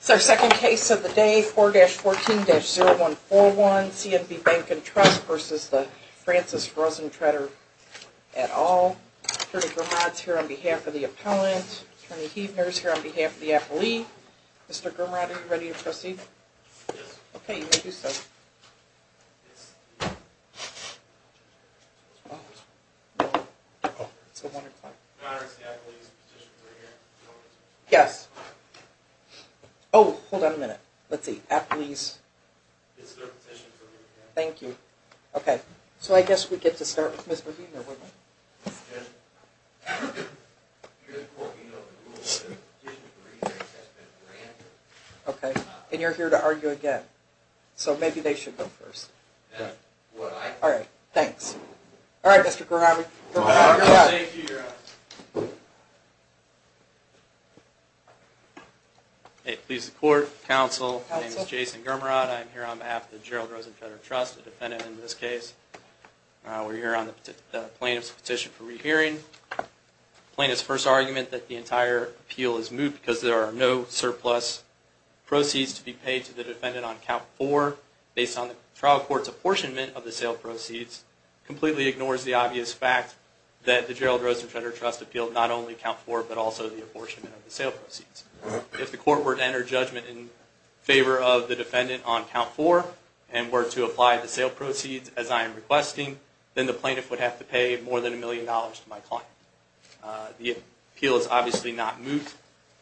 So, second case of the day, 4-14-0141, CNB Bank & Trust v. Francis Rosentreter et al. Attorney Grumad is here on behalf of the appellant. Attorney Huebner is here on behalf of the appellee. Mr. Grumad, are you ready to proceed? Yes. Okay, you may do so. Your Honor, is the appellee's position clear? Yes. Oh, hold on a minute. Let's see, appellee's... Is their position clear? Thank you. Okay, so I guess we get to start with Ms. Huebner, wouldn't we? Yes. Okay, and you're here to argue again, so maybe they should go first. Well, I... All right, thanks. All right, Mr. Grumad. Thank you, Your Honor. It pleases the Court, Counsel, my name is Jason Grumad. I am here on behalf of the Gerald Rosentreter Trust, a defendant in this case. We're here on the plaintiff's petition for rehearing. The plaintiff's first argument that the entire appeal is moot because there are no surplus proceeds to be paid to the defendant on Count 4 based on the trial court's apportionment of the sale proceeds completely ignores the obvious fact that the Gerald Rosentreter Trust appealed not only Count 4, but also the apportionment of the sale proceeds. If the court were to enter judgment in favor of the defendant on Count 4 and were to apply the sale proceeds as I am requesting, then the plaintiff would have to pay more than a million dollars to my client. The appeal is obviously not moot.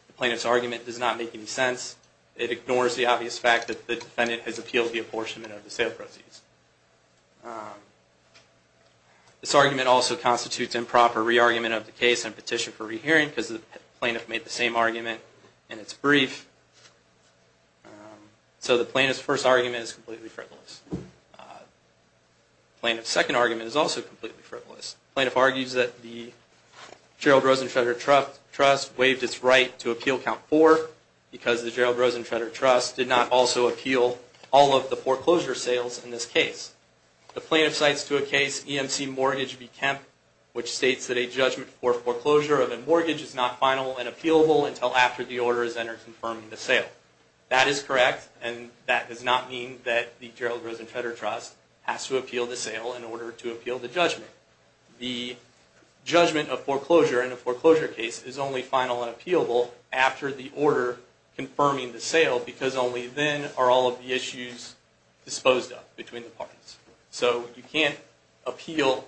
The plaintiff's argument does not make any sense. It ignores the obvious fact that the defendant has appealed the apportionment of the sale proceeds. This argument also constitutes improper re-argument of the case and petition for rehearing because the plaintiff made the same argument in its brief. So the plaintiff's first argument is completely frivolous. The plaintiff's second argument is also completely frivolous. The plaintiff argues that the Gerald Rosentreter Trust waived its right to appeal Count 4 because the Gerald Rosentreter Trust did not also appeal all of the foreclosure sales in this case. The plaintiff cites to a case EMC Mortgage v. Kemp, which states that a judgment for foreclosure of a mortgage is not final and appealable until after the order is entered confirming the sale. That is correct, and that does not mean that the Gerald Rosentreter Trust has to appeal the sale in order to appeal the judgment. The judgment of foreclosure in a foreclosure case is only final and appealable after the order confirming the sale because only then are all of the issues disposed of between the parties. So you can't appeal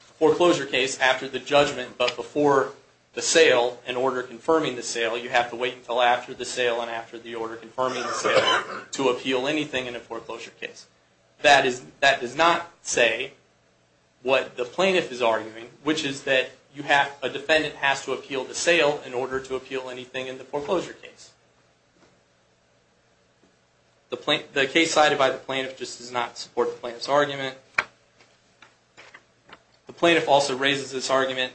a foreclosure case after the judgment, but before the sale, in order confirming the sale, you have to wait until after the sale and after the order confirming the sale to appeal anything in a foreclosure case. That does not say what the plaintiff is arguing, which is that a defendant has to appeal the sale in order to appeal anything in the foreclosure case. The case cited by the plaintiff just does not support the plaintiff's argument. The plaintiff also raises this argument,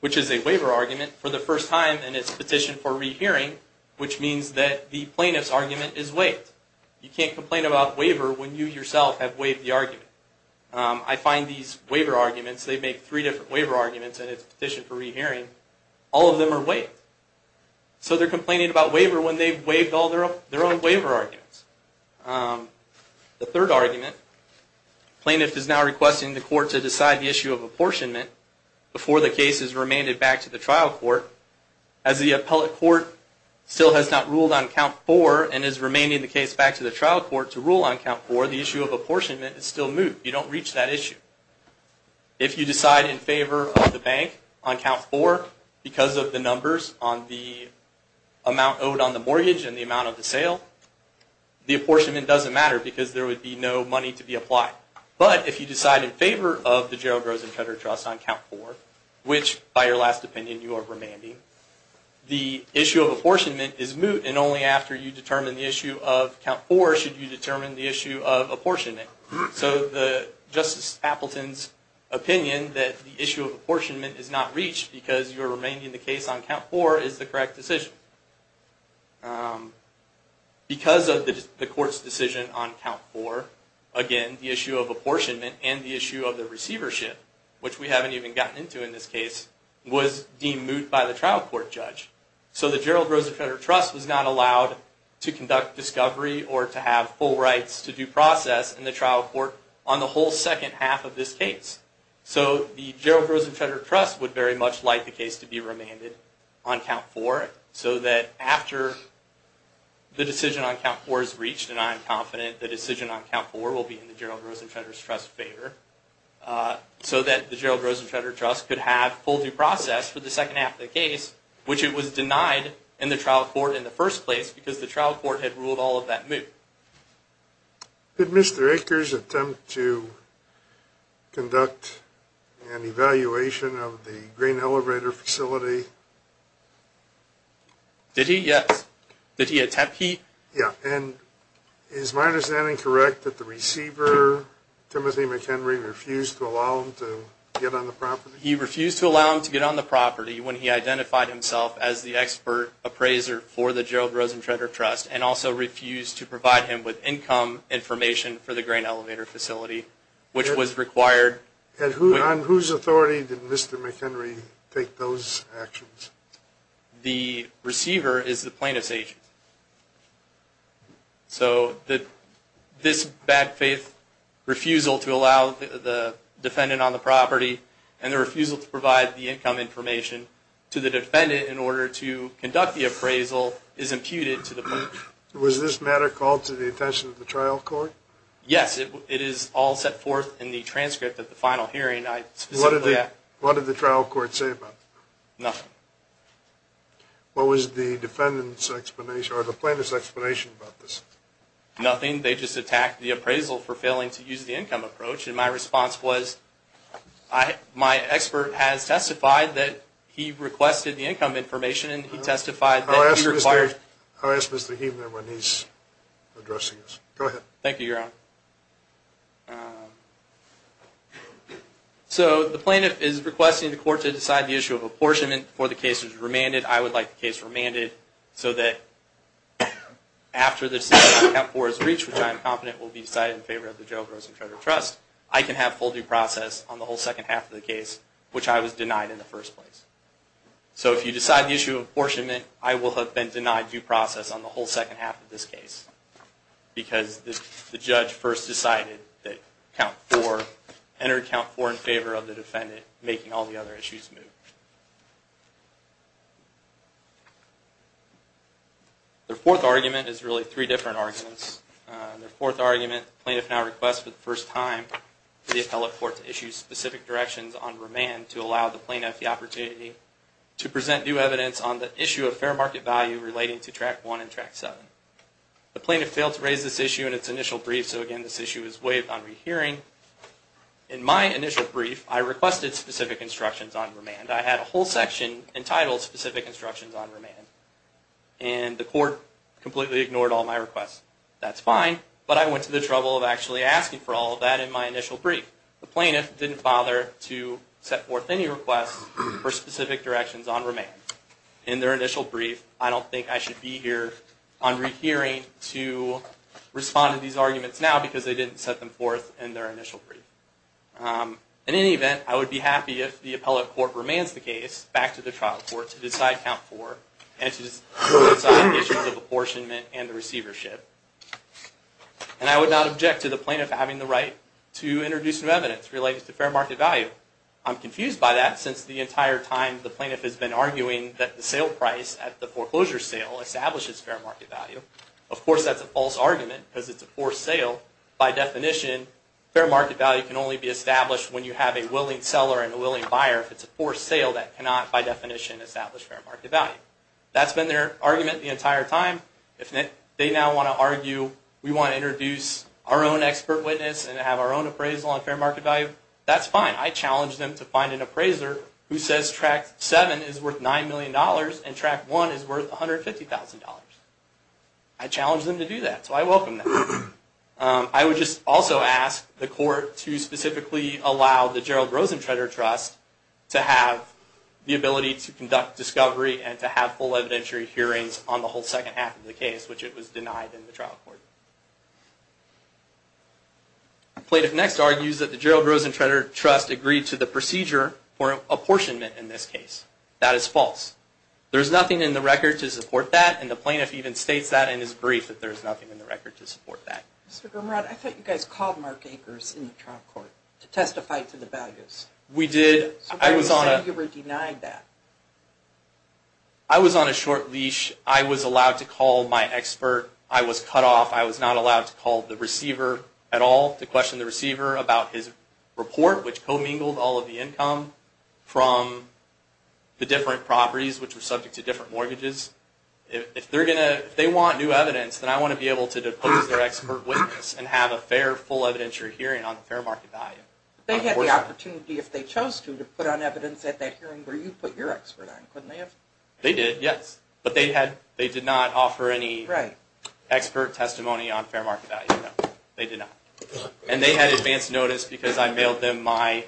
which is a waiver argument, for the first time in its petition for rehearing, which means that the plaintiff's argument is waived. You can't complain about waiver when you yourself have waived the argument. I find these waiver arguments, they make three different waiver arguments in its petition for rehearing, all of them are waived. So they're complaining about waiver when they've waived all their own waiver arguments. The third argument, the plaintiff is now requesting the court to decide the issue of apportionment before the case is remanded back to the trial court. As the appellate court still has not ruled on count four and is remanding the case back to the trial court to rule on count four, the issue of apportionment is still moved. You don't reach that issue. If you decide in favor of the bank on count four, because of the numbers on the amount owed on the mortgage and the amount of the sale, the apportionment doesn't matter because there would be no money to be applied. But if you decide in favor of the Gerald Rosen Cutter Trust on count four, which by your last opinion you are remanding, the issue of apportionment is moved, and only after you determine the issue of count four should you determine the issue of apportionment. So Justice Appleton's opinion that the issue of apportionment is not reached because you are remanding the case on count four is the correct decision. Because of the court's decision on count four, again, the issue of apportionment and the issue of the receivership, which we haven't even gotten into in this case, was deemed moot by the trial court judge. So the Gerald Rosen Cutter Trust was not allowed to conduct discovery or to have full rights to due process in the trial court on the whole second half of this case. So the Gerald Rosen Cutter Trust would very much like the case to be remanded on count four so that after the decision on count four is reached, and I am confident the decision on count four will be in the Gerald Rosen Cutter Trust's favor, so that the Gerald Rosen Cutter Trust could have full due process for the second half of the case, which it was denied in the trial court in the first place because the trial court had ruled all of that moot. Did Mr. Akers attempt to conduct an evaluation of the grain elevator facility? Did he? Yes. Did he attempt? He? Yeah. And is my understanding correct that the receiver, Timothy McHenry, refused to allow him to get on the property? He refused to allow him to get on the property when he identified himself as the expert appraiser for the Gerald Rosen Cutter Trust and also refused to provide him with income information for the grain elevator facility, which was required. And on whose authority did Mr. McHenry take those actions? The receiver is the plaintiff's agent. So this bad faith refusal to allow the defendant on the property and the refusal to provide the income information to the defendant in order to conduct the appraisal is imputed to the plaintiff. Was this matter called to the attention of the trial court? Yes. It is all set forth in the transcript of the final hearing. What did the trial court say about it? Nothing. What was the plaintiff's explanation about this? Nothing. They just attacked the appraisal for failing to use the income approach. My response was, my expert has testified that he requested the income information and he testified that he required... I'll ask Mr. Heathner when he's addressing us. Go ahead. Thank you, Your Honor. So the plaintiff is requesting the court to decide the issue of apportionment before the case is remanded. I would like the case remanded so that after the decision is reached, which I am confident will be decided in favor of the Joe Grossen Trader Trust, I can have full due process on the whole second half of the case, which I was denied in the first place. So if you decide the issue of apportionment, I will have been denied due process on the whole second half of this case because the judge first decided that count 4, entered count 4 in favor of the defendant, making all the other issues move. The fourth argument is really three different arguments. The fourth argument, the plaintiff now requests for the first time for the appellate court to issue specific directions on remand to allow the plaintiff the opportunity to present new evidence on the issue of fair market value relating to Track 1 and Track 7. The plaintiff failed to raise this issue in its initial brief, so again this issue is waived on rehearing. In my initial brief, I requested specific instructions on remand. I had a whole section entitled Specific Instructions on Remand, and the court completely ignored all my requests. That's fine, but I went to the trouble of actually asking for all of that in my initial brief. The plaintiff didn't bother to set forth any requests for specific directions on remand. In their initial brief, I don't think I should be here on rehearing to respond to these arguments now because they didn't set them forth in their initial brief. In any event, I would be happy if the appellate court remands the case back to the trial court to decide Count 4, and to decide issues of apportionment and receivership. And I would not object to the plaintiff having the right to introduce new evidence relating to fair market value. I'm confused by that since the entire time the plaintiff has been arguing that the sale price at the foreclosure sale establishes fair market value. Of course that's a false argument because it's a forced sale. By definition, fair market value can only be established when you have a willing seller and a willing buyer. If it's a forced sale, that cannot by definition establish fair market value. That's been their argument the entire time. If they now want to argue we want to introduce our own expert witness and have our own appraisal on fair market value, that's fine. I challenge them to find an appraiser who says Track 7 is worth $9 million and Track 1 is worth $150,000. I challenge them to do that, so I welcome that. I would just also ask the court to specifically allow the Gerald Rosentreter Trust to have the ability to conduct discovery and to have full evidentiary hearings on the whole second half of the case, which it was denied in the trial court. The plaintiff next argues that the Gerald Rosentreter Trust agreed to the procedure for apportionment in this case. That is false. There is nothing in the record to support that, and the plaintiff even states that and is briefed that there is nothing in the record to support that. Mr. Grimrod, I thought you guys called Mark Akers in the trial court to testify to the values. We did. Why do you say you were denied that? I was on a short leash. I was allowed to call my expert. I was cut off. I was not allowed to call the receiver at all to question the receiver about his report, which commingled all of the income from the different properties, which were subject to different mortgages. If they want new evidence, then I want to be able to depose their expert witness and have a fair, full evidentiary hearing on the fair market value. They had the opportunity, if they chose to, to put on evidence at that hearing where you put your expert on, couldn't they have? They did, yes. But they did not offer any expert testimony on fair market value. They did not. And they had advance notice because I mailed them my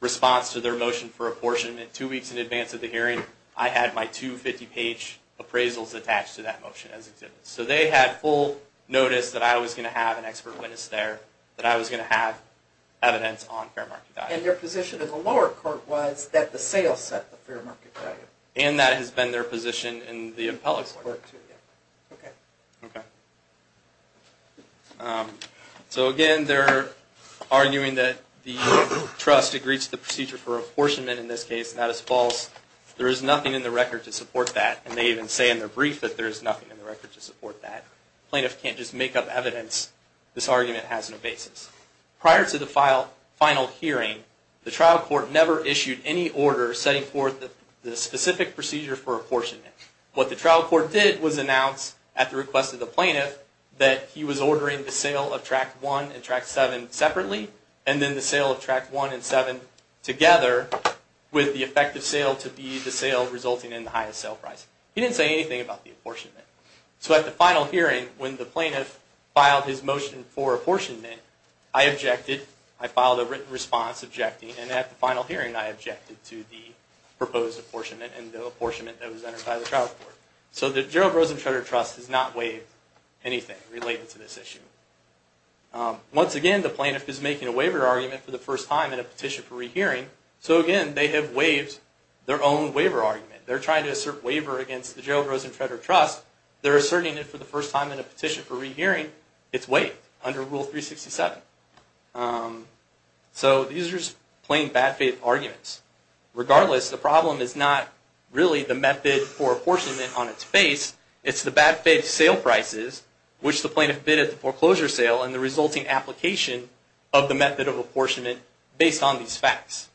response to their motion for apportionment two weeks in advance of the hearing. I had my two 50-page appraisals attached to that motion as exhibits. So they had full notice that I was going to have an expert witness there, that I was going to have evidence on fair market value. And their position in the lower court was that the sale set the fair market value. And that has been their position in the appellate court. Okay. So again, they're arguing that the trust agrees to the procedure for apportionment. In this case, that is false. There is nothing in the record to support that. And they even say in their brief that there is nothing in the record to support that. Plaintiffs can't just make up evidence. This argument has no basis. Prior to the final hearing, the trial court never issued any order setting forth the specific procedure for apportionment. What the trial court did was announce, at the request of the plaintiff, that he was ordering the sale of tract one and tract seven separately, and then the sale of tract one and seven together, with the effective sale to be the sale resulting in the highest sale price. He didn't say anything about the apportionment. So at the final hearing, when the plaintiff filed his motion for apportionment, I objected. I filed a written response objecting. And at the final hearing, I objected to the proposed apportionment and the apportionment that was entered by the trial court. So the Gerald Rosen Trader Trust has not waived anything related to this issue. Once again, the plaintiff is making a waiver argument for the first time in a petition for rehearing. So again, they have waived their own waiver argument. They're trying to assert waiver against the Gerald Rosen Trader Trust. They're asserting it for the first time in a petition for rehearing. It's waived under Rule 367. So these are just plain bad faith arguments. Regardless, the problem is not really the method for apportionment on its face. It's the bad faith sale prices, which the plaintiff bid at the foreclosure sale, and the resulting application of the method of apportionment based on these facts.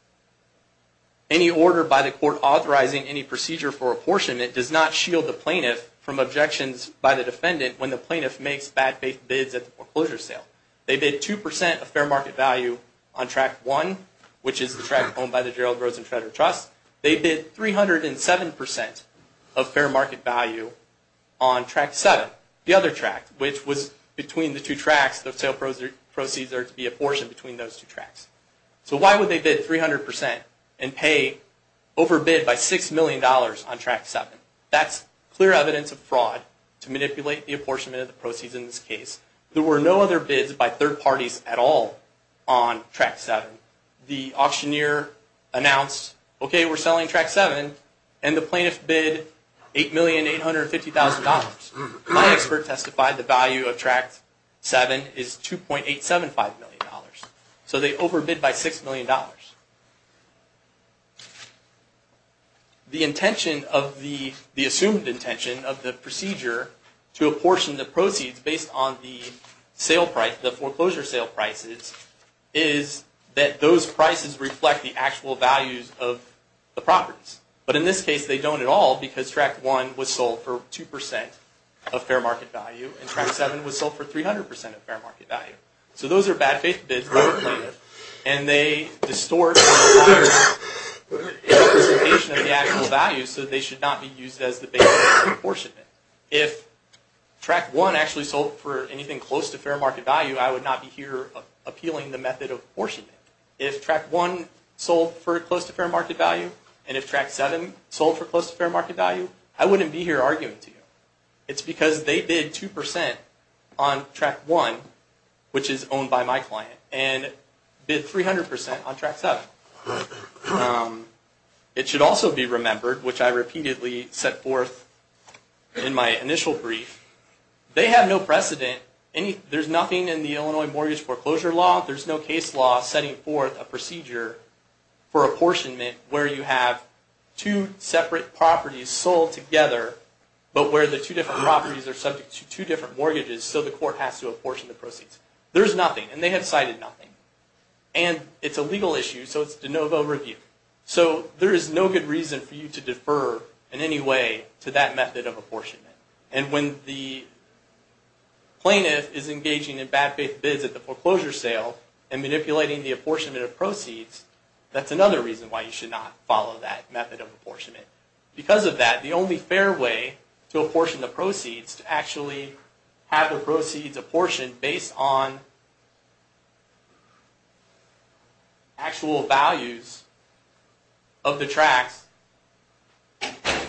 Any order by the court authorizing any procedure for apportionment does not shield the plaintiff from objections by the defendant when the plaintiff makes bad faith bids at the foreclosure sale. They bid 2% of fair market value on tract one, which is the tract owned by the Gerald Rosen Trader Trust. They bid 307% of fair market value on tract seven, the other tract, which was between the two tracts. The sale proceeds are to be apportioned between those two tracts. So why would they bid 300% and pay overbid by $6 million on tract seven? That's clear evidence of fraud to manipulate the apportionment of the proceeds in this case. There were no other bids by third parties at all on tract seven. The auctioneer announced, okay, we're selling tract seven, and the plaintiff bid $8,850,000. My expert testified the value of tract seven is $2.875 million. So they overbid by $6 million. The intention of the, the assumed intention of the procedure to apportion the proceeds based on the sale price, the foreclosure sale prices, is that those prices reflect the actual values of the properties. But in this case, they don't at all because tract one was sold for 2% of fair market value, and tract seven was sold for 300% of fair market value. So those are bad faith bids by the plaintiff, and they distort the representation of the actual value so they should not be used as the basis for apportionment. If tract one actually sold for anything close to fair market value, I would not be here appealing the method of apportionment. If tract one sold for close to fair market value, and if tract seven sold for close to fair market value, I wouldn't be here arguing to you. It's because they bid 2% on tract one, which is owned by my client, and bid 300% on tract seven. It should also be remembered, which I repeatedly set forth in my initial brief, they have no precedent. There's nothing in the Illinois mortgage foreclosure law, there's no case law setting forth a procedure for apportionment where you have two separate properties sold together, but where the two different properties are subject to two different mortgages, so the court has to apportion the proceeds. There's nothing, and they have cited nothing. It's a legal issue, so it's de novo review. There is no good reason for you to defer in any way to that method of apportionment. When the plaintiff is engaging in bad faith bids at the foreclosure sale and manipulating the apportionment of proceeds, that's another reason why you should not follow that method of apportionment. Because of that, the only fair way to apportion the proceeds, to actually have the proceeds apportioned based on actual values of the tracts,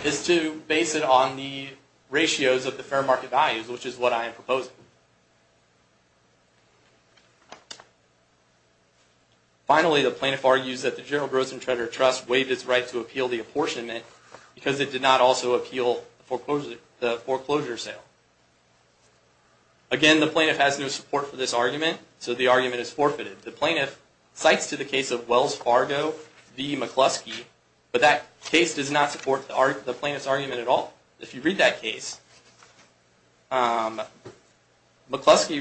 is to base it on the ratios of the fair market values, which is what I am proposing. Finally, the plaintiff argues that the General Gross and Trader Trust waived its right to appeal the apportionment because it did not also appeal the foreclosure sale. Again, the plaintiff has no support for this argument, so the argument is forfeited. The plaintiff cites to the case of Wells Fargo v. McCluskey, but that case does not support the plaintiff's argument at all. If you read that case, McCluskey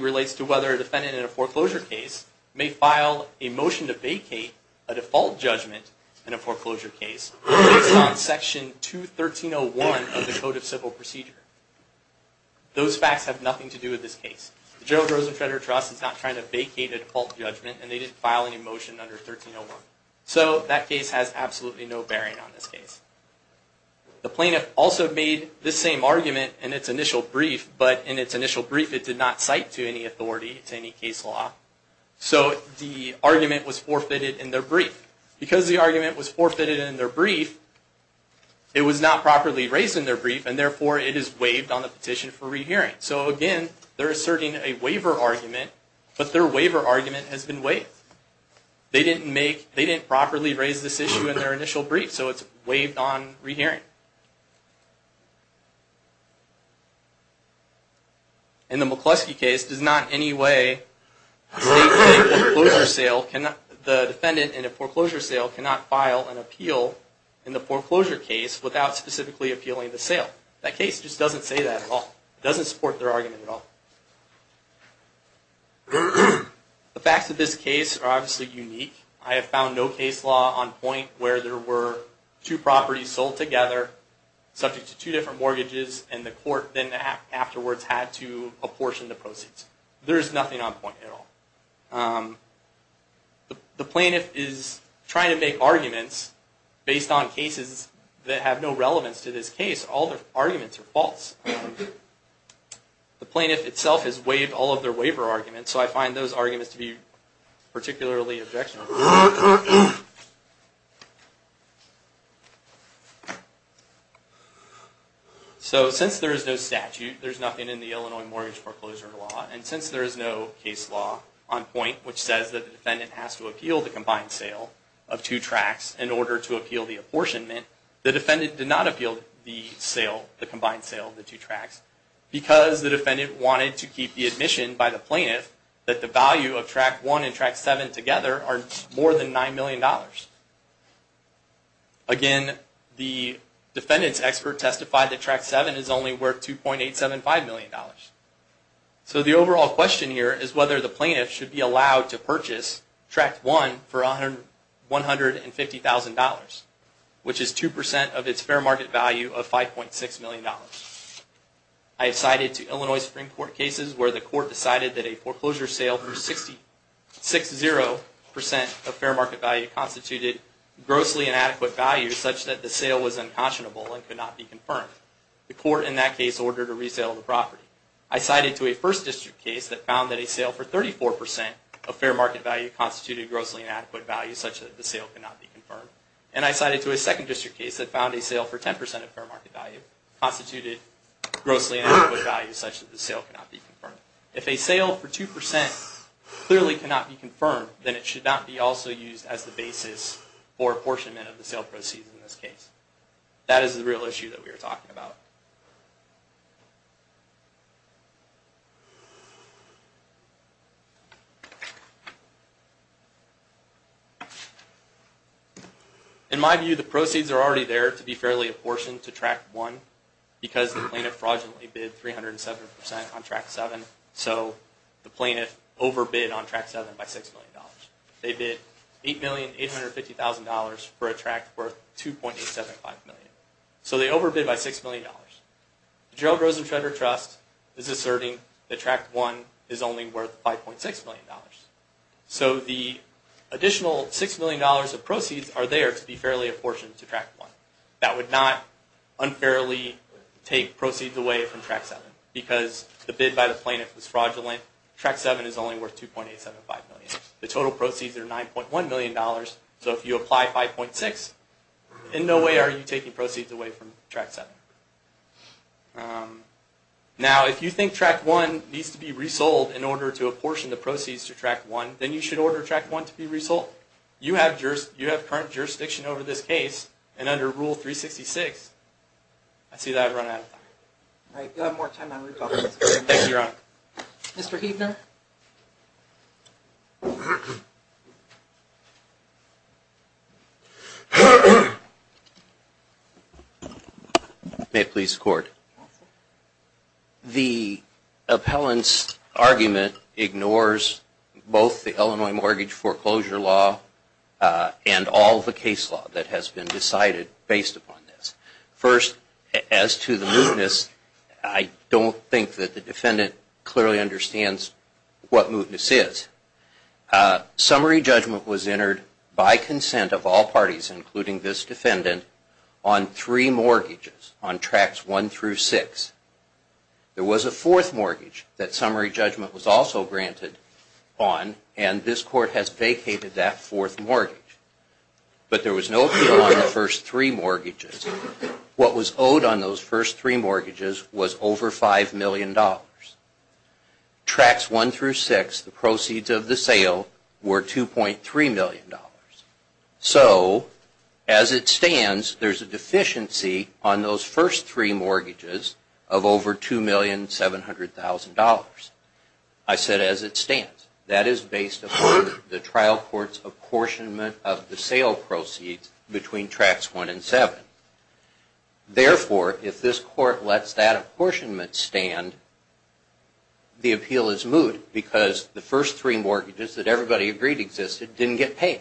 relates to whether a defendant in a foreclosure case may file a motion to vacate a default judgment in a foreclosure case based on Section 213.01 of the Code of Civil Procedure. Those facts have nothing to do with this case. The General Gross and Trader Trust is not trying to vacate a default judgment, and they didn't file any motion under 1301. So that case has absolutely no bearing on this case. The plaintiff also made this same argument in its initial brief, but in its initial brief it did not cite to any authority, to any case law. So the argument was forfeited in their brief. Because the argument was forfeited in their brief, it was not properly raised in their brief, and therefore it is waived on the petition for rehearing. So again, they're asserting a waiver argument, but their waiver argument has been waived. They didn't properly raise this issue in their initial brief, so it's waived on rehearing. And the McCluskey case does not in any way say that the defendant in a foreclosure sale cannot file an appeal in the foreclosure case without specifically appealing the sale. That case just doesn't say that at all. It doesn't support their argument at all. The facts of this case are obviously unique. I have found no case law on point where there were two properties sold together, subject to two different mortgages, and the court then afterwards had to apportion the proceeds. There is nothing on point at all. The plaintiff is trying to make arguments based on cases that have no relevance to this case. All their arguments are false. The plaintiff itself has waived all of their waiver arguments, so I find those arguments to be particularly objectionable. So since there is no statute, there's nothing in the Illinois Mortgage Foreclosure Law, and since there is no case law on point, which says that the defendant has to appeal the combined sale of two tracts in order to appeal the apportionment, the defendant did not appeal the sale, the combined sale of the two tracts, because the defendant wanted to keep the admission by the plaintiff that the value of Tract 1 and Tract 7 together are more than $9 million. Again, the defendant's expert testified that Tract 7 is only worth $2.875 million. So the overall question here is whether the plaintiff should be allowed to purchase Tract 1 for $150,000, which is 2% of its fair market value of $5.6 million. I have cited two Illinois Supreme Court cases where the court decided that a foreclosure sale of over 6.0% of fair market value constituted grossly inadequate value such that the sale was unconscionable and could not be confirmed. The court in that case ordered a resale of the property. I cited a First District case that found that a sale for 34% of fair market value constituted grossly inadequate value such that the sale could not be confirmed, and I cited a Second District case that found a sale for 10% of fair market value constituted grossly inadequate value such that the sale could not be confirmed. If a sale for 2% clearly cannot be confirmed, then it should not be also used as the basis for apportionment of the sale proceeds in this case. That is the real issue that we are talking about. In my view, the proceeds are already there to be fairly apportioned to Track 1 because the plaintiff fraudulently bid 307% on Track 7, so the plaintiff overbid on Track 7 by $6,000,000. They bid $8,850,000 for a track worth $2,875,000. So they overbid by $6,000,000. The Gerald Rosen Trader Trust is asserting that Track 1 is only worth $5,600,000. So the additional $6,000,000 of proceeds are there to be fairly apportioned to Track 1. That would not unfairly take proceeds away from Track 7 because the bid by the plaintiff was fraudulent. Track 7 is only worth $2,875,000. The total proceeds are $9,100,000. So if you apply $5,600,000, in no way are you taking proceeds away from Track 7. Now, if you think Track 1 needs to be resold in order to apportion the proceeds to Track 1, then you should order Track 1 to be resold. You have current jurisdiction over this case and under Rule 366. I see that I've run out of time. All right, you'll have more time on recall. Thank you, Your Honor. Mr. Huebner? May it please the Court. Counsel? The appellant's argument ignores both the Illinois Mortgage Foreclosure Law and all the case law that has been decided based upon this. First, as to the mootness, I don't think that the defendant clearly understands what mootness is. Summary judgment was entered by consent of all parties, including this defendant, on three mortgages on Tracks 1 through 6. There was a fourth mortgage that summary judgment was also granted on, and this Court has vacated that fourth mortgage. But there was no appeal on the first three mortgages. What was owed on those first three mortgages was over $5,000,000. Tracks 1 through 6, the proceeds of the sale were $2.3 million. So, as it stands, there's a deficiency on those first three mortgages of over $2,700,000. I said, as it stands. That is based upon the trial court's apportionment of the sale proceeds between Tracks 1 and 7. Therefore, if this Court lets that apportionment stand, the appeal is moot because the first three mortgages that everybody agreed existed didn't get paid.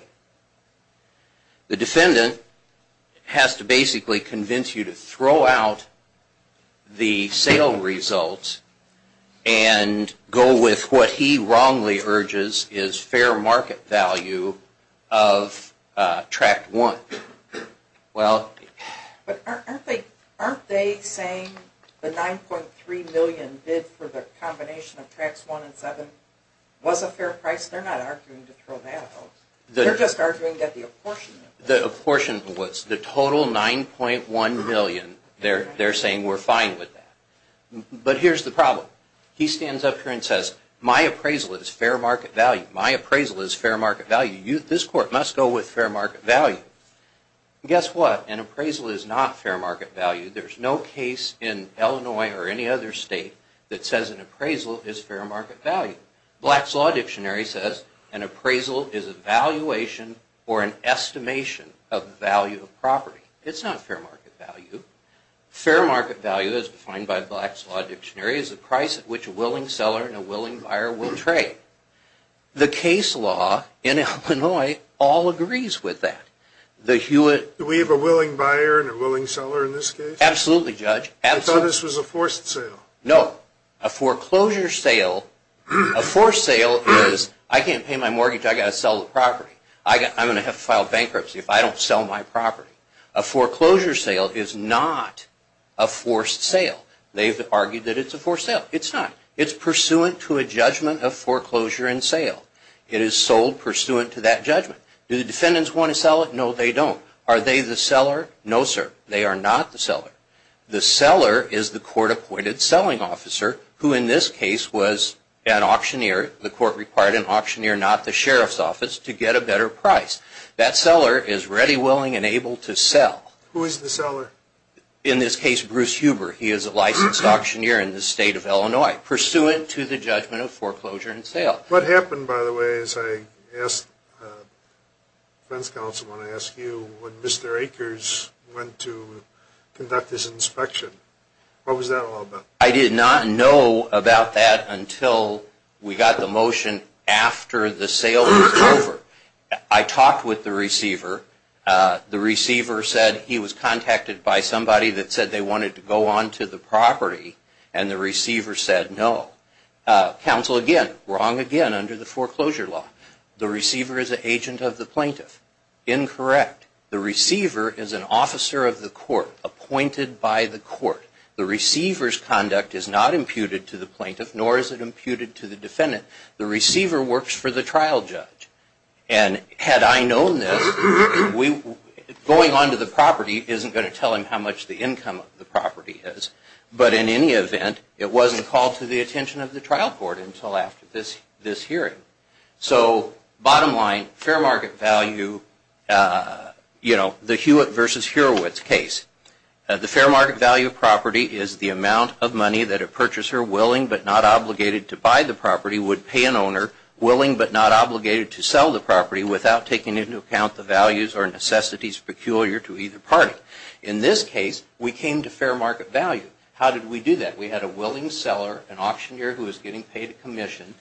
The defendant has to basically convince you to throw out the sale results and go with what he wrongly urges is fair market value of Tracks 1. Well... But aren't they saying the $9.3 million bid for the combination of Tracks 1 and 7 was a fair price? They're not arguing to throw that out. They're just arguing that the apportionment... The apportionment was the total $9.1 million. They're saying we're fine with that. But here's the problem. He stands up here and says, my appraisal is fair market value. My appraisal is fair market value. This Court must go with fair market value. Guess what? An appraisal is not fair market value. There's no case in Illinois or any other state that says an appraisal is fair market value. Black's Law Dictionary says an appraisal is a valuation or an estimation of the value of property. It's not fair market value. Fair market value, as defined by Black's Law Dictionary, is the price at which a willing seller and a willing buyer will trade. The case law in Illinois all agrees with that. The Hewitt... Do we have a willing buyer and a willing seller in this case? Absolutely, Judge. I thought this was a forced sale. No. A foreclosure sale... A forced sale is, I can't pay my mortgage, I've got to sell the property. I'm going to have to file bankruptcy if I don't sell my property. A foreclosure sale is not a forced sale. They've argued that it's a forced sale. It's not. It's pursuant to a judgment of foreclosure and sale. It is sold pursuant to that judgment. Do the defendants want to sell it? No, they don't. Are they the seller? No, sir. They are not the seller. The seller is the court-appointed selling officer, who in this case was an auctioneer. The court required an auctioneer, not the sheriff's office, to get a better price. That seller is ready, willing, and able to sell. Who is the seller? In this case, Bruce Huber. He is a licensed auctioneer in the state of Illinois, pursuant to the judgment of foreclosure and sale. What happened, by the way, as I asked the defense counsel when I asked you, when Mr. Akers went to conduct his inspection? What was that all about? I did not know about that until we got the motion after the sale was over. I talked with the receiver. The receiver said he was contacted by somebody that said they wanted to go on to the property, and the receiver said no. Counsel, again, wrong again under the foreclosure law. The receiver is an agent of the plaintiff. Incorrect. The receiver is an officer of the court, appointed by the court. The receiver's conduct is not imputed to the plaintiff, nor is it imputed to the defendant. The receiver works for the trial judge. Had I known this, going on to the property isn't going to tell him how much the income of the property is, but in any event, it wasn't called to the attention of the trial court until after this hearing. So bottom line, fair market value, the Hewitt versus Hurwitz case. The fair market value of property is the amount of money that a purchaser, willing but not obligated to buy the property, would pay an owner, willing but not obligated to sell the property, without taking into account the values or necessities peculiar to either party. In this case, we came to fair market value. How did we do that? We had a willing seller, an auctioneer who was getting paid a commission.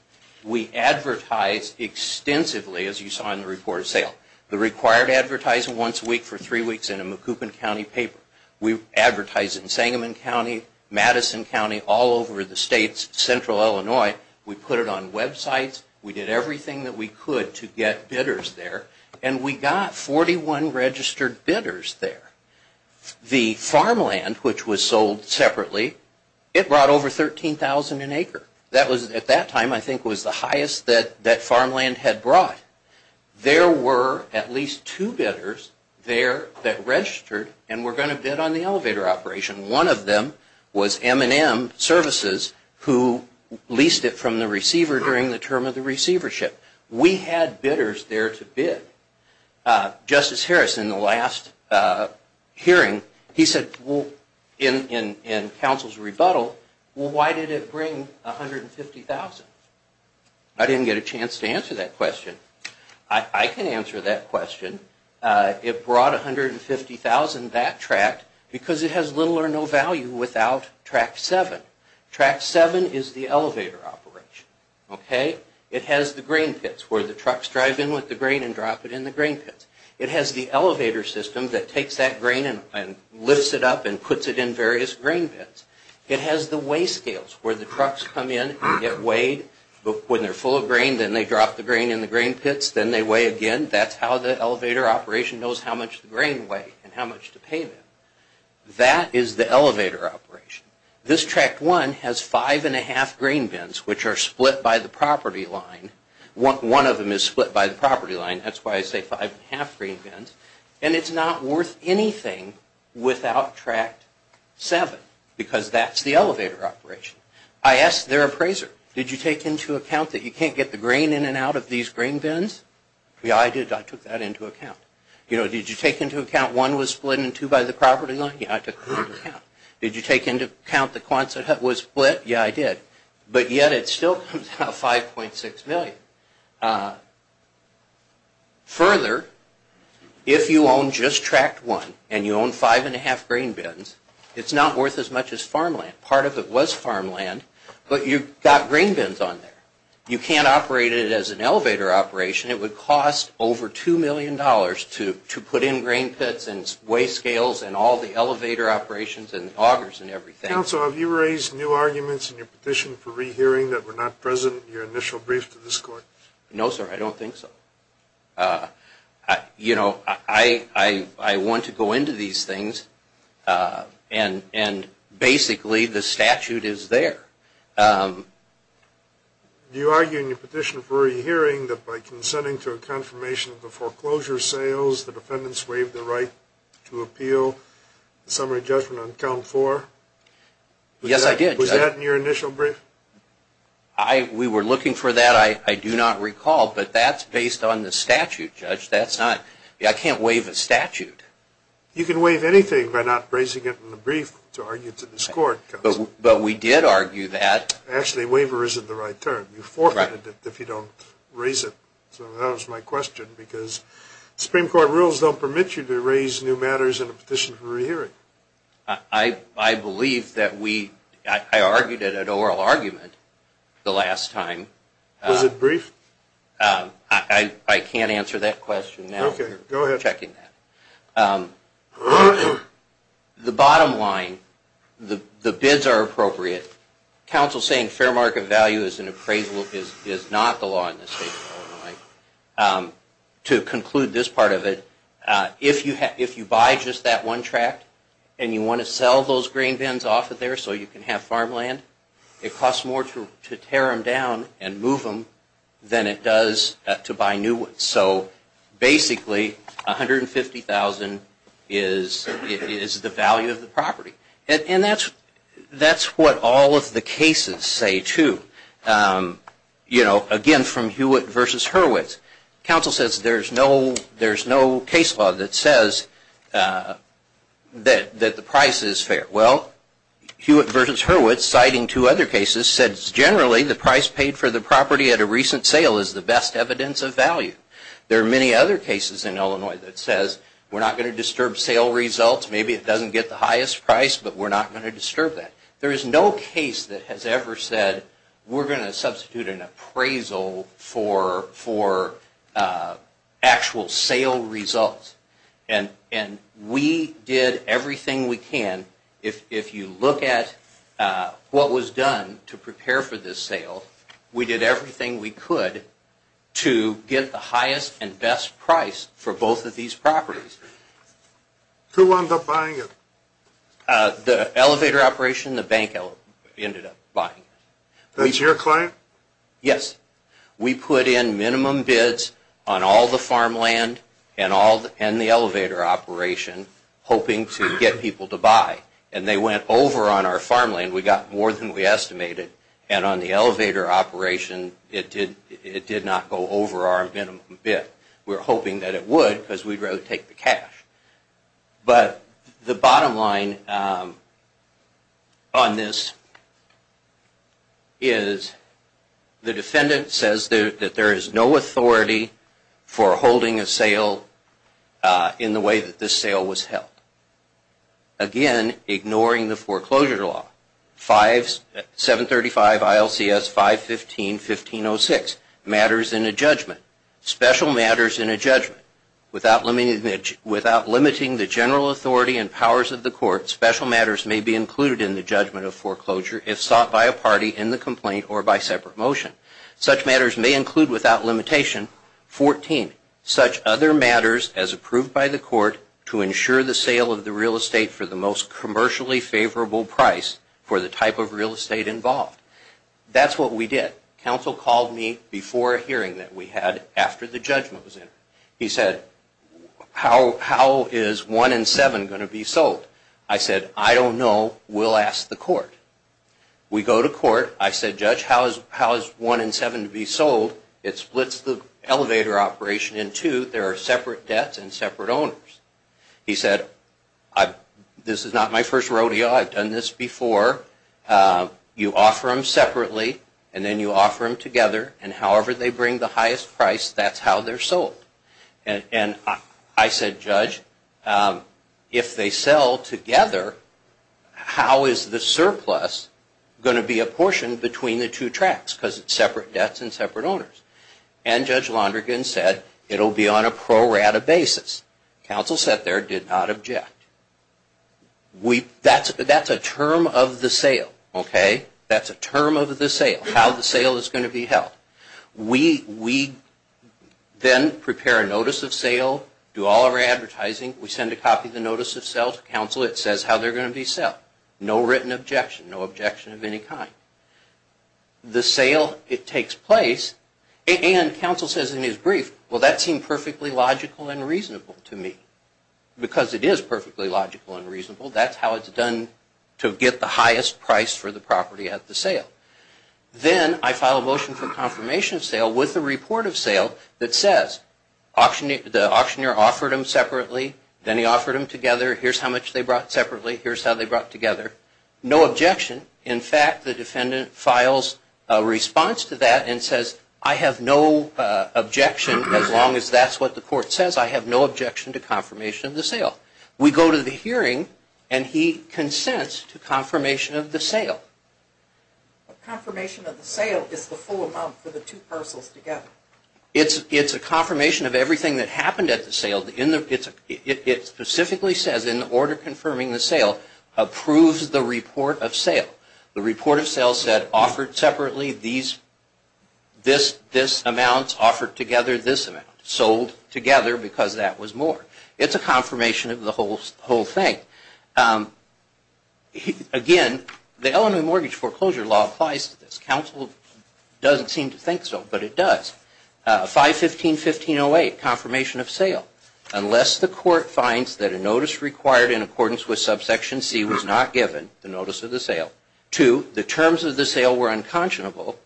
We advertised extensively, as you saw in the report of sale, the required advertising once a week for three weeks in a Macoupin County paper. We advertised in Sangamon County, Madison County, all over the states, Central Illinois. We put it on websites. We did everything that we could to get bidders there, and we got 41 registered bidders there. The farmland, which was sold separately, it brought over $13,000 an acre. That was, at that time, I think was the highest that farmland had brought. There were at least two bidders there that registered and were going to bid on the elevator operation. One of them was M&M Services, who leased it from the receiver during the term of the receivership. We had bidders there to bid. Justice Harris, in the last hearing, he said in counsel's rebuttal, well, why did it bring $150,000? I didn't get a chance to answer that question. I can answer that question. It brought $150,000, that tract, because it has little or no value without Tract 7. Tract 7 is the elevator operation. It has the grain pits where the trucks drive in with the grain and drop it in the grain pits. It has the elevator system that takes that grain and lifts it up and puts it in various grain pits. It has the weigh scales where the trucks come in and get weighed. When they're full of grain, then they drop the grain in the grain pits, then they weigh again. That's how the elevator operation knows how much the grain weighed and how much to pay them. That is the elevator operation. This Tract 1 has 5 1⁄2 grain bins, which are split by the property line. One of them is split by the property line. That's why I say 5 1⁄2 grain bins. And it's not worth anything without Tract 7 because that's the elevator operation. I asked their appraiser, did you take into account that you can't get the grain in and out of these grain bins? Yeah, I did. I took that into account. Did you take into account one was split in two by the property line? Yeah, I took that into account. Did you take into account the Quonset Hut was split? Yeah, I did. But yet it still comes out 5.6 million. Further, if you own just Tract 1 and you own 5 1⁄2 grain bins, it's not worth as much as farmland. Part of it was farmland, but you've got grain bins on there. You can't operate it as an elevator operation. It would cost over $2 million to put in grain pits and waste scales and all the elevator operations and augers and everything. Counsel, have you raised new arguments in your petition for rehearing that were not present in your initial brief to this court? No, sir, I don't think so. You know, I want to go into these things, and basically the statute is there. Do you argue in your petition for rehearing that by consenting to a confirmation of the foreclosure sales, the defendants waived the right to appeal the summary judgment on count four? Yes, I did. Was that in your initial brief? We were looking for that. I do not recall, but that's based on the statute, Judge. I can't waive a statute. You can waive anything by not raising it in the brief to argue to this court. But we did argue that. Actually, waiver isn't the right term. You forfeit it if you don't raise it. So that was my question, because Supreme Court rules don't permit you to raise new matters in a petition for rehearing. I believe that we – I argued it at oral argument the last time. Was it brief? I can't answer that question now. Okay, go ahead. We're checking that. The bottom line, the bids are appropriate. Counsel saying fair market value is not the law in this case. To conclude this part of it, if you buy just that one tract and you want to sell those grain bins off of there so you can have farmland, it costs more to tear them down and move them than it does to buy new ones. So basically, $150,000 is the value of the property. And that's what all of the cases say, too. Again, from Hewitt v. Hurwitz, counsel says there's no case law that says that the price is fair. Well, Hewitt v. Hurwitz, citing two other cases, said generally the price paid for the property at a recent sale is the best evidence of value. There are many other cases in Illinois that says we're not going to disturb sale results. Maybe it doesn't get the highest price, but we're not going to disturb that. There is no case that has ever said we're going to substitute an appraisal for actual sale results. And we did everything we can. If you look at what was done to prepare for this sale, we did everything we could to get the highest and best price for both of these properties. Who wound up buying it? The elevator operation, the bank ended up buying it. Was it your client? Yes. We put in minimum bids on all the farmland and the elevator operation, hoping to get people to buy. And they went over on our farmland. We got more than we estimated. And on the elevator operation, it did not go over our minimum bid. We were hoping that it would because we'd rather take the cash. But the bottom line on this is the defendant says that there is no authority for holding a sale in the way that this sale was held. Again, ignoring the foreclosure law, 735 ILCS 515-1506, matters in a judgment. Without limiting the general authority and powers of the court, special matters may be included in the judgment of foreclosure if sought by a party in the complaint or by separate motion. Such matters may include without limitation 14, such other matters as approved by the court to ensure the sale of the real estate for the most commercially favorable price for the type of real estate involved. That's what we did. Counsel called me before a hearing that we had after the judgment was in. He said, how is 1 and 7 going to be sold? I said, I don't know. We'll ask the court. We go to court. I said, Judge, how is 1 and 7 to be sold? It splits the elevator operation in two. There are separate debts and separate owners. He said, this is not my first rodeo. I've done this before. You offer them separately, and then you offer them together, and however they bring the highest price, that's how they're sold. I said, Judge, if they sell together, how is the surplus going to be a portion between the two tracks because it's separate debts and separate owners? Judge Londrigan said, it will be on a pro rata basis. Counsel sat there, did not object. That's a term of the sale. That's a term of the sale, how the sale is going to be held. We then prepare a notice of sale, do all of our advertising. We send a copy of the notice of sale to counsel. It says how they're going to be sold. No written objection, no objection of any kind. The sale, it takes place, and counsel says in his brief, well, that seemed perfectly logical and reasonable to me. Because it is perfectly logical and reasonable, that's how it's done to get the highest price for the property at the sale. Then I file a motion for confirmation of sale with a report of sale that says the auctioneer offered them separately, then he offered them together. Here's how much they brought separately. Here's how they brought together. No objection. In fact, the defendant files a response to that and says, I have no objection as long as that's what the court says. I have no objection to confirmation of the sale. We go to the hearing and he consents to confirmation of the sale. Confirmation of the sale is the full amount for the two parcels together. It's a confirmation of everything that happened at the sale. It specifically says, in order of confirming the sale, approves the report of sale. The report of sale said, offered separately, these amounts offered together, this amount sold together because that was more. It's a confirmation of the whole thing. Again, the Illinois Mortgage Foreclosure Law applies to this. Counsel doesn't seem to think so, but it does. 515.1508, confirmation of sale. Unless the court finds that a notice required in accordance with subsection C was not given, the notice of the sale. Two, the terms of the sale were unconscionable.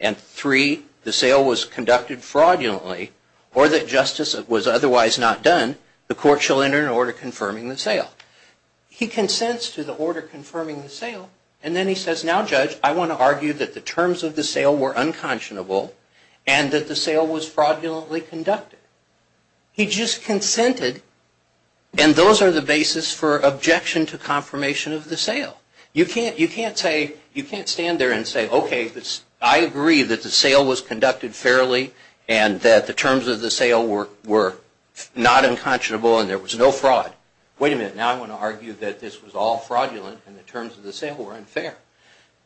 And three, the sale was conducted fraudulently or that justice was otherwise not done, the court shall enter an order confirming the sale. He consents to the order confirming the sale and then he says, now judge, I want to argue that the terms of the sale were unconscionable and that the sale was fraudulently conducted. He just consented and those are the basis for objection to confirmation of the sale. You can't stand there and say, okay, I agree that the sale was conducted fairly and that the terms of the sale were not unconscionable and there was no fraud. Wait a minute, now I want to argue that this was all fraudulent and the terms of the sale were unfair.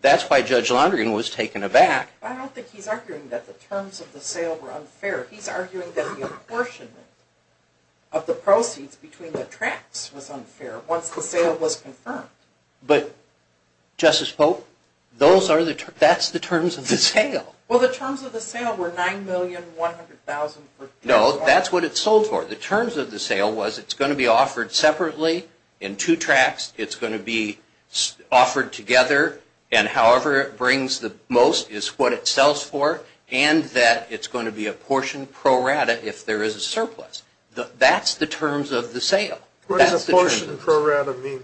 That's why Judge Laundrie was taken aback. I don't think he's arguing that the terms of the sale were unfair. He's arguing that the apportionment of the proceeds between the tracts was unfair once the sale was confirmed. But, Justice Pope, that's the terms of the sale. Well, the terms of the sale were $9,100,000. No, that's what it sold for. The terms of the sale was it's going to be offered separately in two tracts. It's going to be offered together and however it brings the most is what it sells for and that it's going to be apportioned pro rata if there is a surplus. That's the terms of the sale. What does apportionment pro rata mean?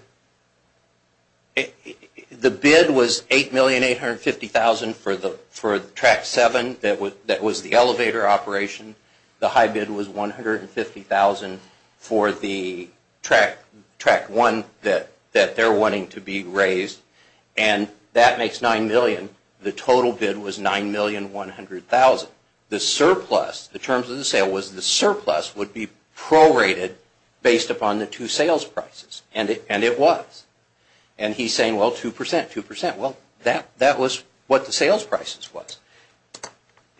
The bid was $8,850,000 for the tract 7 that was the elevator operation. The high bid was $150,000 for the tract 1 that they're wanting to be raised and that makes $9,000,000. The total bid was $9,100,000. The surplus, the terms of the sale was the surplus would be prorated based upon the two sales prices and it was. And he's saying, well, 2%, 2%. Well, that was what the sales prices was.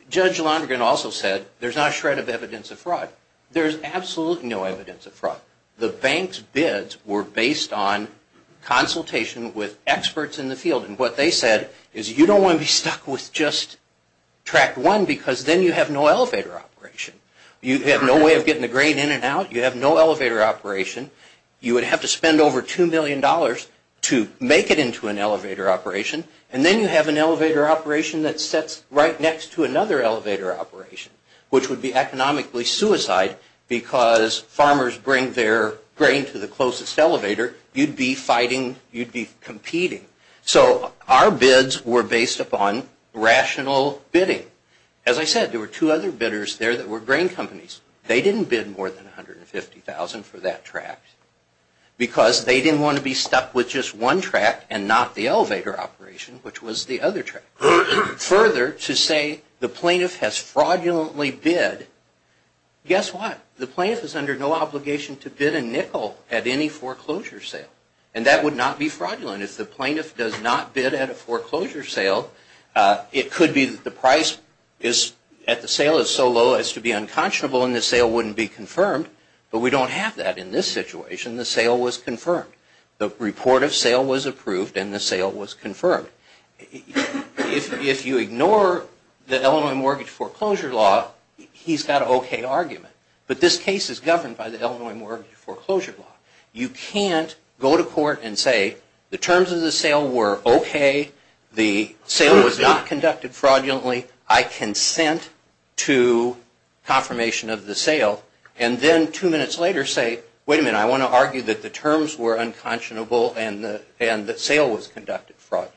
Judge Londrigan also said there's not a shred of evidence of fraud. There's absolutely no evidence of fraud. The bank's bids were based on consultation with experts in the field and what they said is you don't want to be stuck with just tract 1 because then you have no elevator operation. You have no way of getting the grain in and out. You have no elevator operation. You would have to spend over $2,000,000 to make it into an elevator operation and then you have an elevator operation that sits right next to another elevator operation which would be economically suicide because farmers bring their grain to the closest elevator. You'd be fighting. You'd be competing. So our bids were based upon rational bidding. As I said, there were two other bidders there that were grain companies. They didn't bid more than $150,000 for that tract because they didn't want to be stuck with just one tract and not the elevator operation which was the other tract. Further, to say the plaintiff has fraudulently bid, guess what? The plaintiff is under no obligation to bid a nickel at any foreclosure sale and that would not be fraudulent. If the plaintiff does not bid at a foreclosure sale, it could be that the sale is so low as to be unconscionable and the sale wouldn't be confirmed, but we don't have that in this situation. The sale was confirmed. The report of sale was approved and the sale was confirmed. If you ignore the Illinois Mortgage Foreclosure Law, he's got an okay argument, but this case is governed by the Illinois Mortgage Foreclosure Law. You can't go to court and say the terms of the sale were okay. The sale was not conducted fraudulently. I consent to confirmation of the sale and then two minutes later say, wait a minute, I want to argue that the terms were unconscionable and the sale was conducted fraudulently.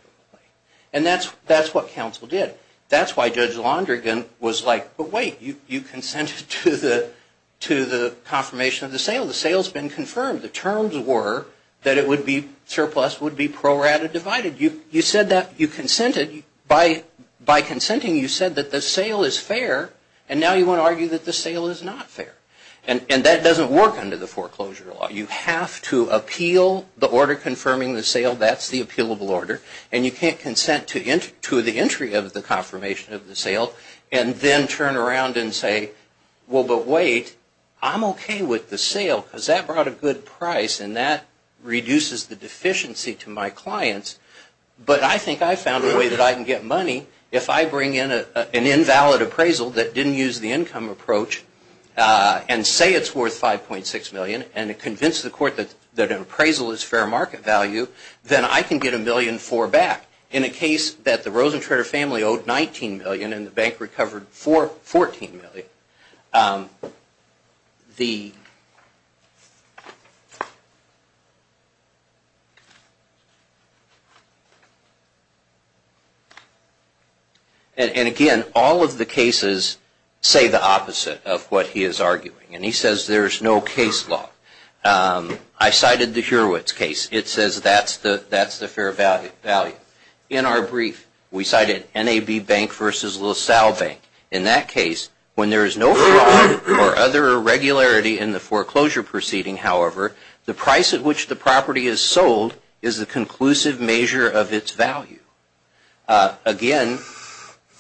And that's what counsel did. That's why Judge Londrigan was like, but wait, you consented to the confirmation of the sale. The sale's been confirmed. The terms were that it would be surplus, would be pro rata divided. You consented. By consenting, you said that the sale is fair, and now you want to argue that the sale is not fair. And that doesn't work under the foreclosure law. You have to appeal the order confirming the sale. That's the appealable order. And you can't consent to the entry of the confirmation of the sale and then turn around and say, well, but wait, I'm okay with the sale because that brought a good price and that reduces the deficiency to my clients, but I think I found a way that I can get money if I bring in an invalid appraisal that didn't use the income approach and say it's worth $5.6 million and convince the court that an appraisal is fair market value, then I can get $1.4 million back. In a case that the Rosencranter family owed $19 million and the bank recovered $14 million, and again, all of the cases say the opposite of what he is arguing. And he says there's no case law. I cited the Hurwitz case. It says that's the fair value. In our brief, we cited NAB Bank versus LaSalle Bank. In that case, when there is no fraud or other irregularity in the foreclosure proceeding, however, the price at which the property is sold is the conclusive measure of its value. Again,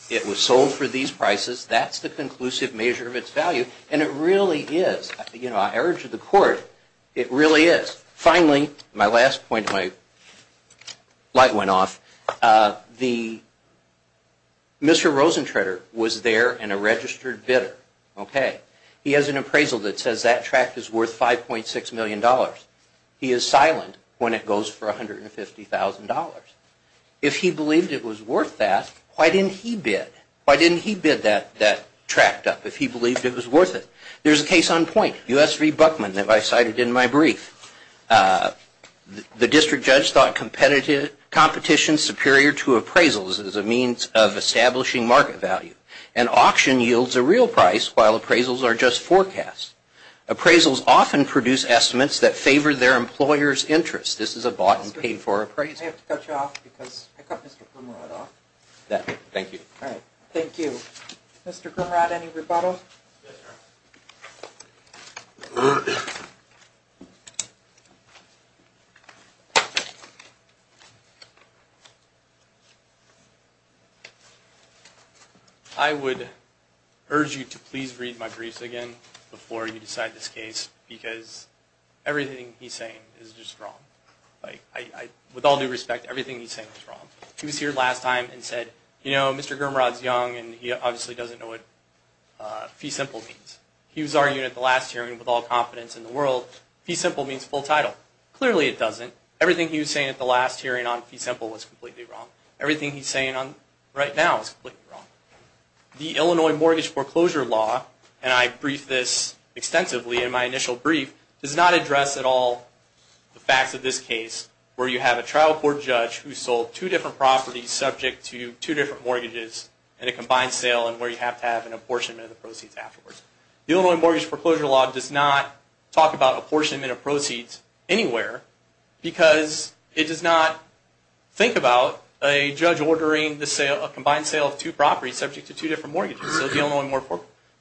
it was sold for these prices. That's the conclusive measure of its value, and it really is. I urge the court, it really is. Finally, my last point, my light went off. Mr. Rosencranter was there and a registered bidder. He has an appraisal that says that tract is worth $5.6 million. He is silent when it goes for $150,000. If he believed it was worth that, why didn't he bid? Why didn't he bid that tract up if he believed it was worth it? There's a case on point, U.S. v. Buckman that I cited in my brief. The district judge thought competition superior to appraisals as a means of establishing market value. An auction yields a real price while appraisals are just forecasts. Appraisals often produce estimates that favor their employer's interest. This is a bought and paid for appraisal. I have to cut you off because I cut Mr. Krumrad off. Thank you. Thank you. Mr. Krumrad, any rebuttal? Yes, Your Honor. I would urge you to please read my briefs again before you decide this case because everything he's saying is just wrong. With all due respect, everything he's saying is wrong. He was here last time and said, you know, Mr. Krumrad's young and he obviously doesn't know what fee simple means. He was arguing at the last hearing with all confidence in the world, fee simple means full title. Clearly it doesn't. Everything he was saying at the last hearing on fee simple was completely wrong. Everything he's saying right now is completely wrong. The Illinois mortgage foreclosure law, and I briefed this extensively in my initial brief, does not address at all the facts of this case where you have a trial court judge who sold two different properties subject to two different mortgages in a combined sale and where you have to have an apportionment of the proceeds afterwards. The Illinois mortgage foreclosure law does not talk about apportionment of proceeds anywhere because it does not think about a judge ordering a combined sale of two properties subject to two different mortgages. So the Illinois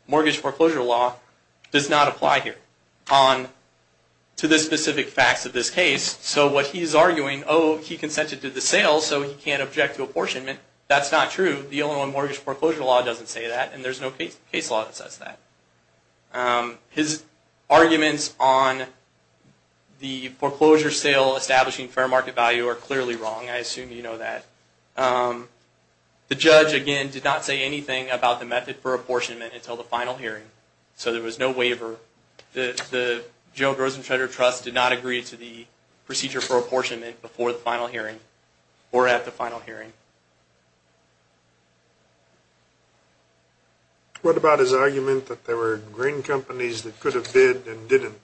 mortgage foreclosure law does not apply here to the specific facts of this case. So what he's arguing, oh, he consented to the sale so he can't object to the Illinois mortgage foreclosure law doesn't say that and there's no case law that says that. His arguments on the foreclosure sale establishing fair market value are clearly wrong. I assume you know that. The judge, again, did not say anything about the method for apportionment until the final hearing. So there was no waiver. The General Gross and Schroeder Trust did not agree to the procedure for apportionment. What about his argument that there were grain companies that could have bid and didn't?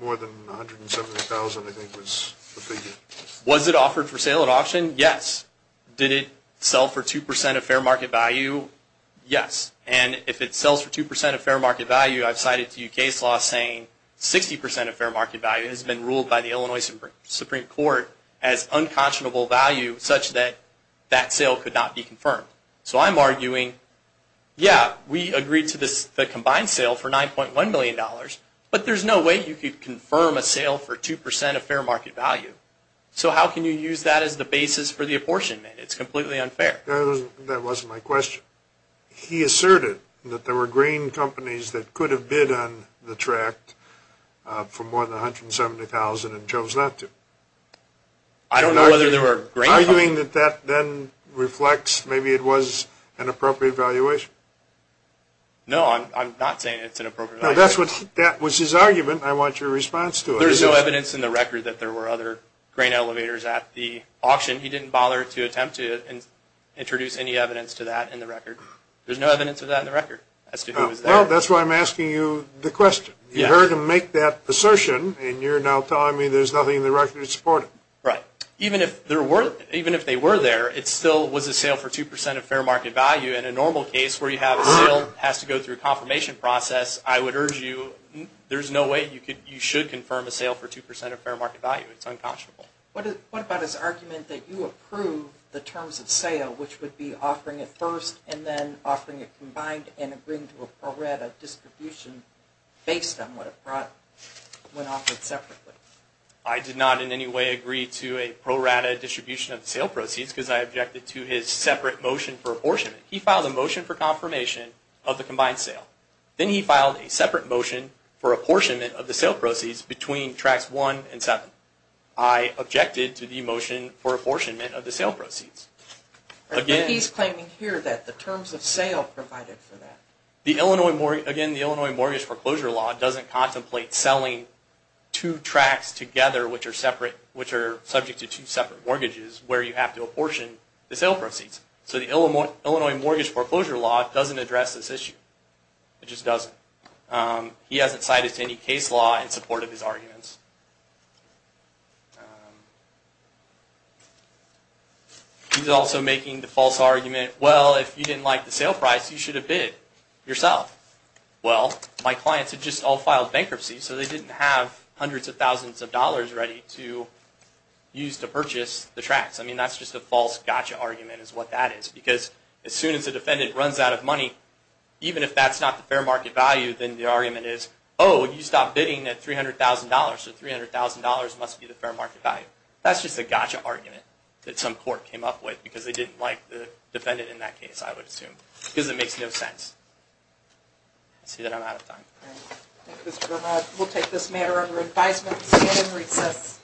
More than 170,000 I think was the figure. Was it offered for sale at auction? Yes. Did it sell for 2% of fair market value? Yes. And if it sells for 2% of fair market value, I've cited a few case laws saying 60% of fair market value has been ruled by the Illinois Supreme Court as So I'm arguing, yeah, we agreed to the combined sale for $9.1 million, but there's no way you could confirm a sale for 2% of fair market value. So how can you use that as the basis for the apportionment? It's completely unfair. That wasn't my question. He asserted that there were grain companies that could have bid on the tract for more than 170,000 and chose not to. I don't know whether there were grain companies. Are you arguing that that then reflects maybe it was an appropriate valuation? No, I'm not saying it's an appropriate valuation. That was his argument. I want your response to it. There's no evidence in the record that there were other grain elevators at the auction. He didn't bother to attempt to introduce any evidence to that in the record. There's no evidence of that in the record as to who was there. Well, that's why I'm asking you the question. You heard him make that assertion, and you're now telling me there's nothing in the record to support it. Right. Even if they were there, it still was a sale for 2% of fair market value. In a normal case where you have a sale that has to go through a confirmation process, I would urge you, there's no way you should confirm a sale for 2% of fair market value. It's unconscionable. What about his argument that you approve the terms of sale, which would be offering it first and then offering it combined and agreeing to a pro rata distribution based on what it brought when offered separately? I did not in any way agree to a pro rata distribution of the sale proceeds because I objected to his separate motion for apportionment. He filed a motion for confirmation of the combined sale. Then he filed a separate motion for apportionment of the sale proceeds between Tracts 1 and 7. I objected to the motion for apportionment of the sale proceeds. But he's claiming here that the terms of sale provided for that. Again, the Illinois Mortgage Foreclosure Law doesn't contemplate selling two tracts together, which are subject to two separate mortgages, where you have to apportion the sale proceeds. So the Illinois Mortgage Foreclosure Law doesn't address this issue. It just doesn't. He hasn't cited any case law in support of his arguments. He's also making the false argument, well, if you didn't like the sale price, you should have bid yourself. Well, my clients had just all filed bankruptcy, so they didn't have hundreds of thousands of dollars ready to use to purchase the tracts. I mean, that's just a false gotcha argument is what that is. Because as soon as a defendant runs out of money, even if that's not the fair market value, then the argument is, oh, you stopped bidding at $300,000, so $300,000 must be the fair market value. That's just a gotcha argument that some court came up with because they didn't like the defendant in that case, I would assume, because it makes no sense. I see that I'm out of time. Thank you, Mr. Verma. We'll take this matter under advisement and stand in recess.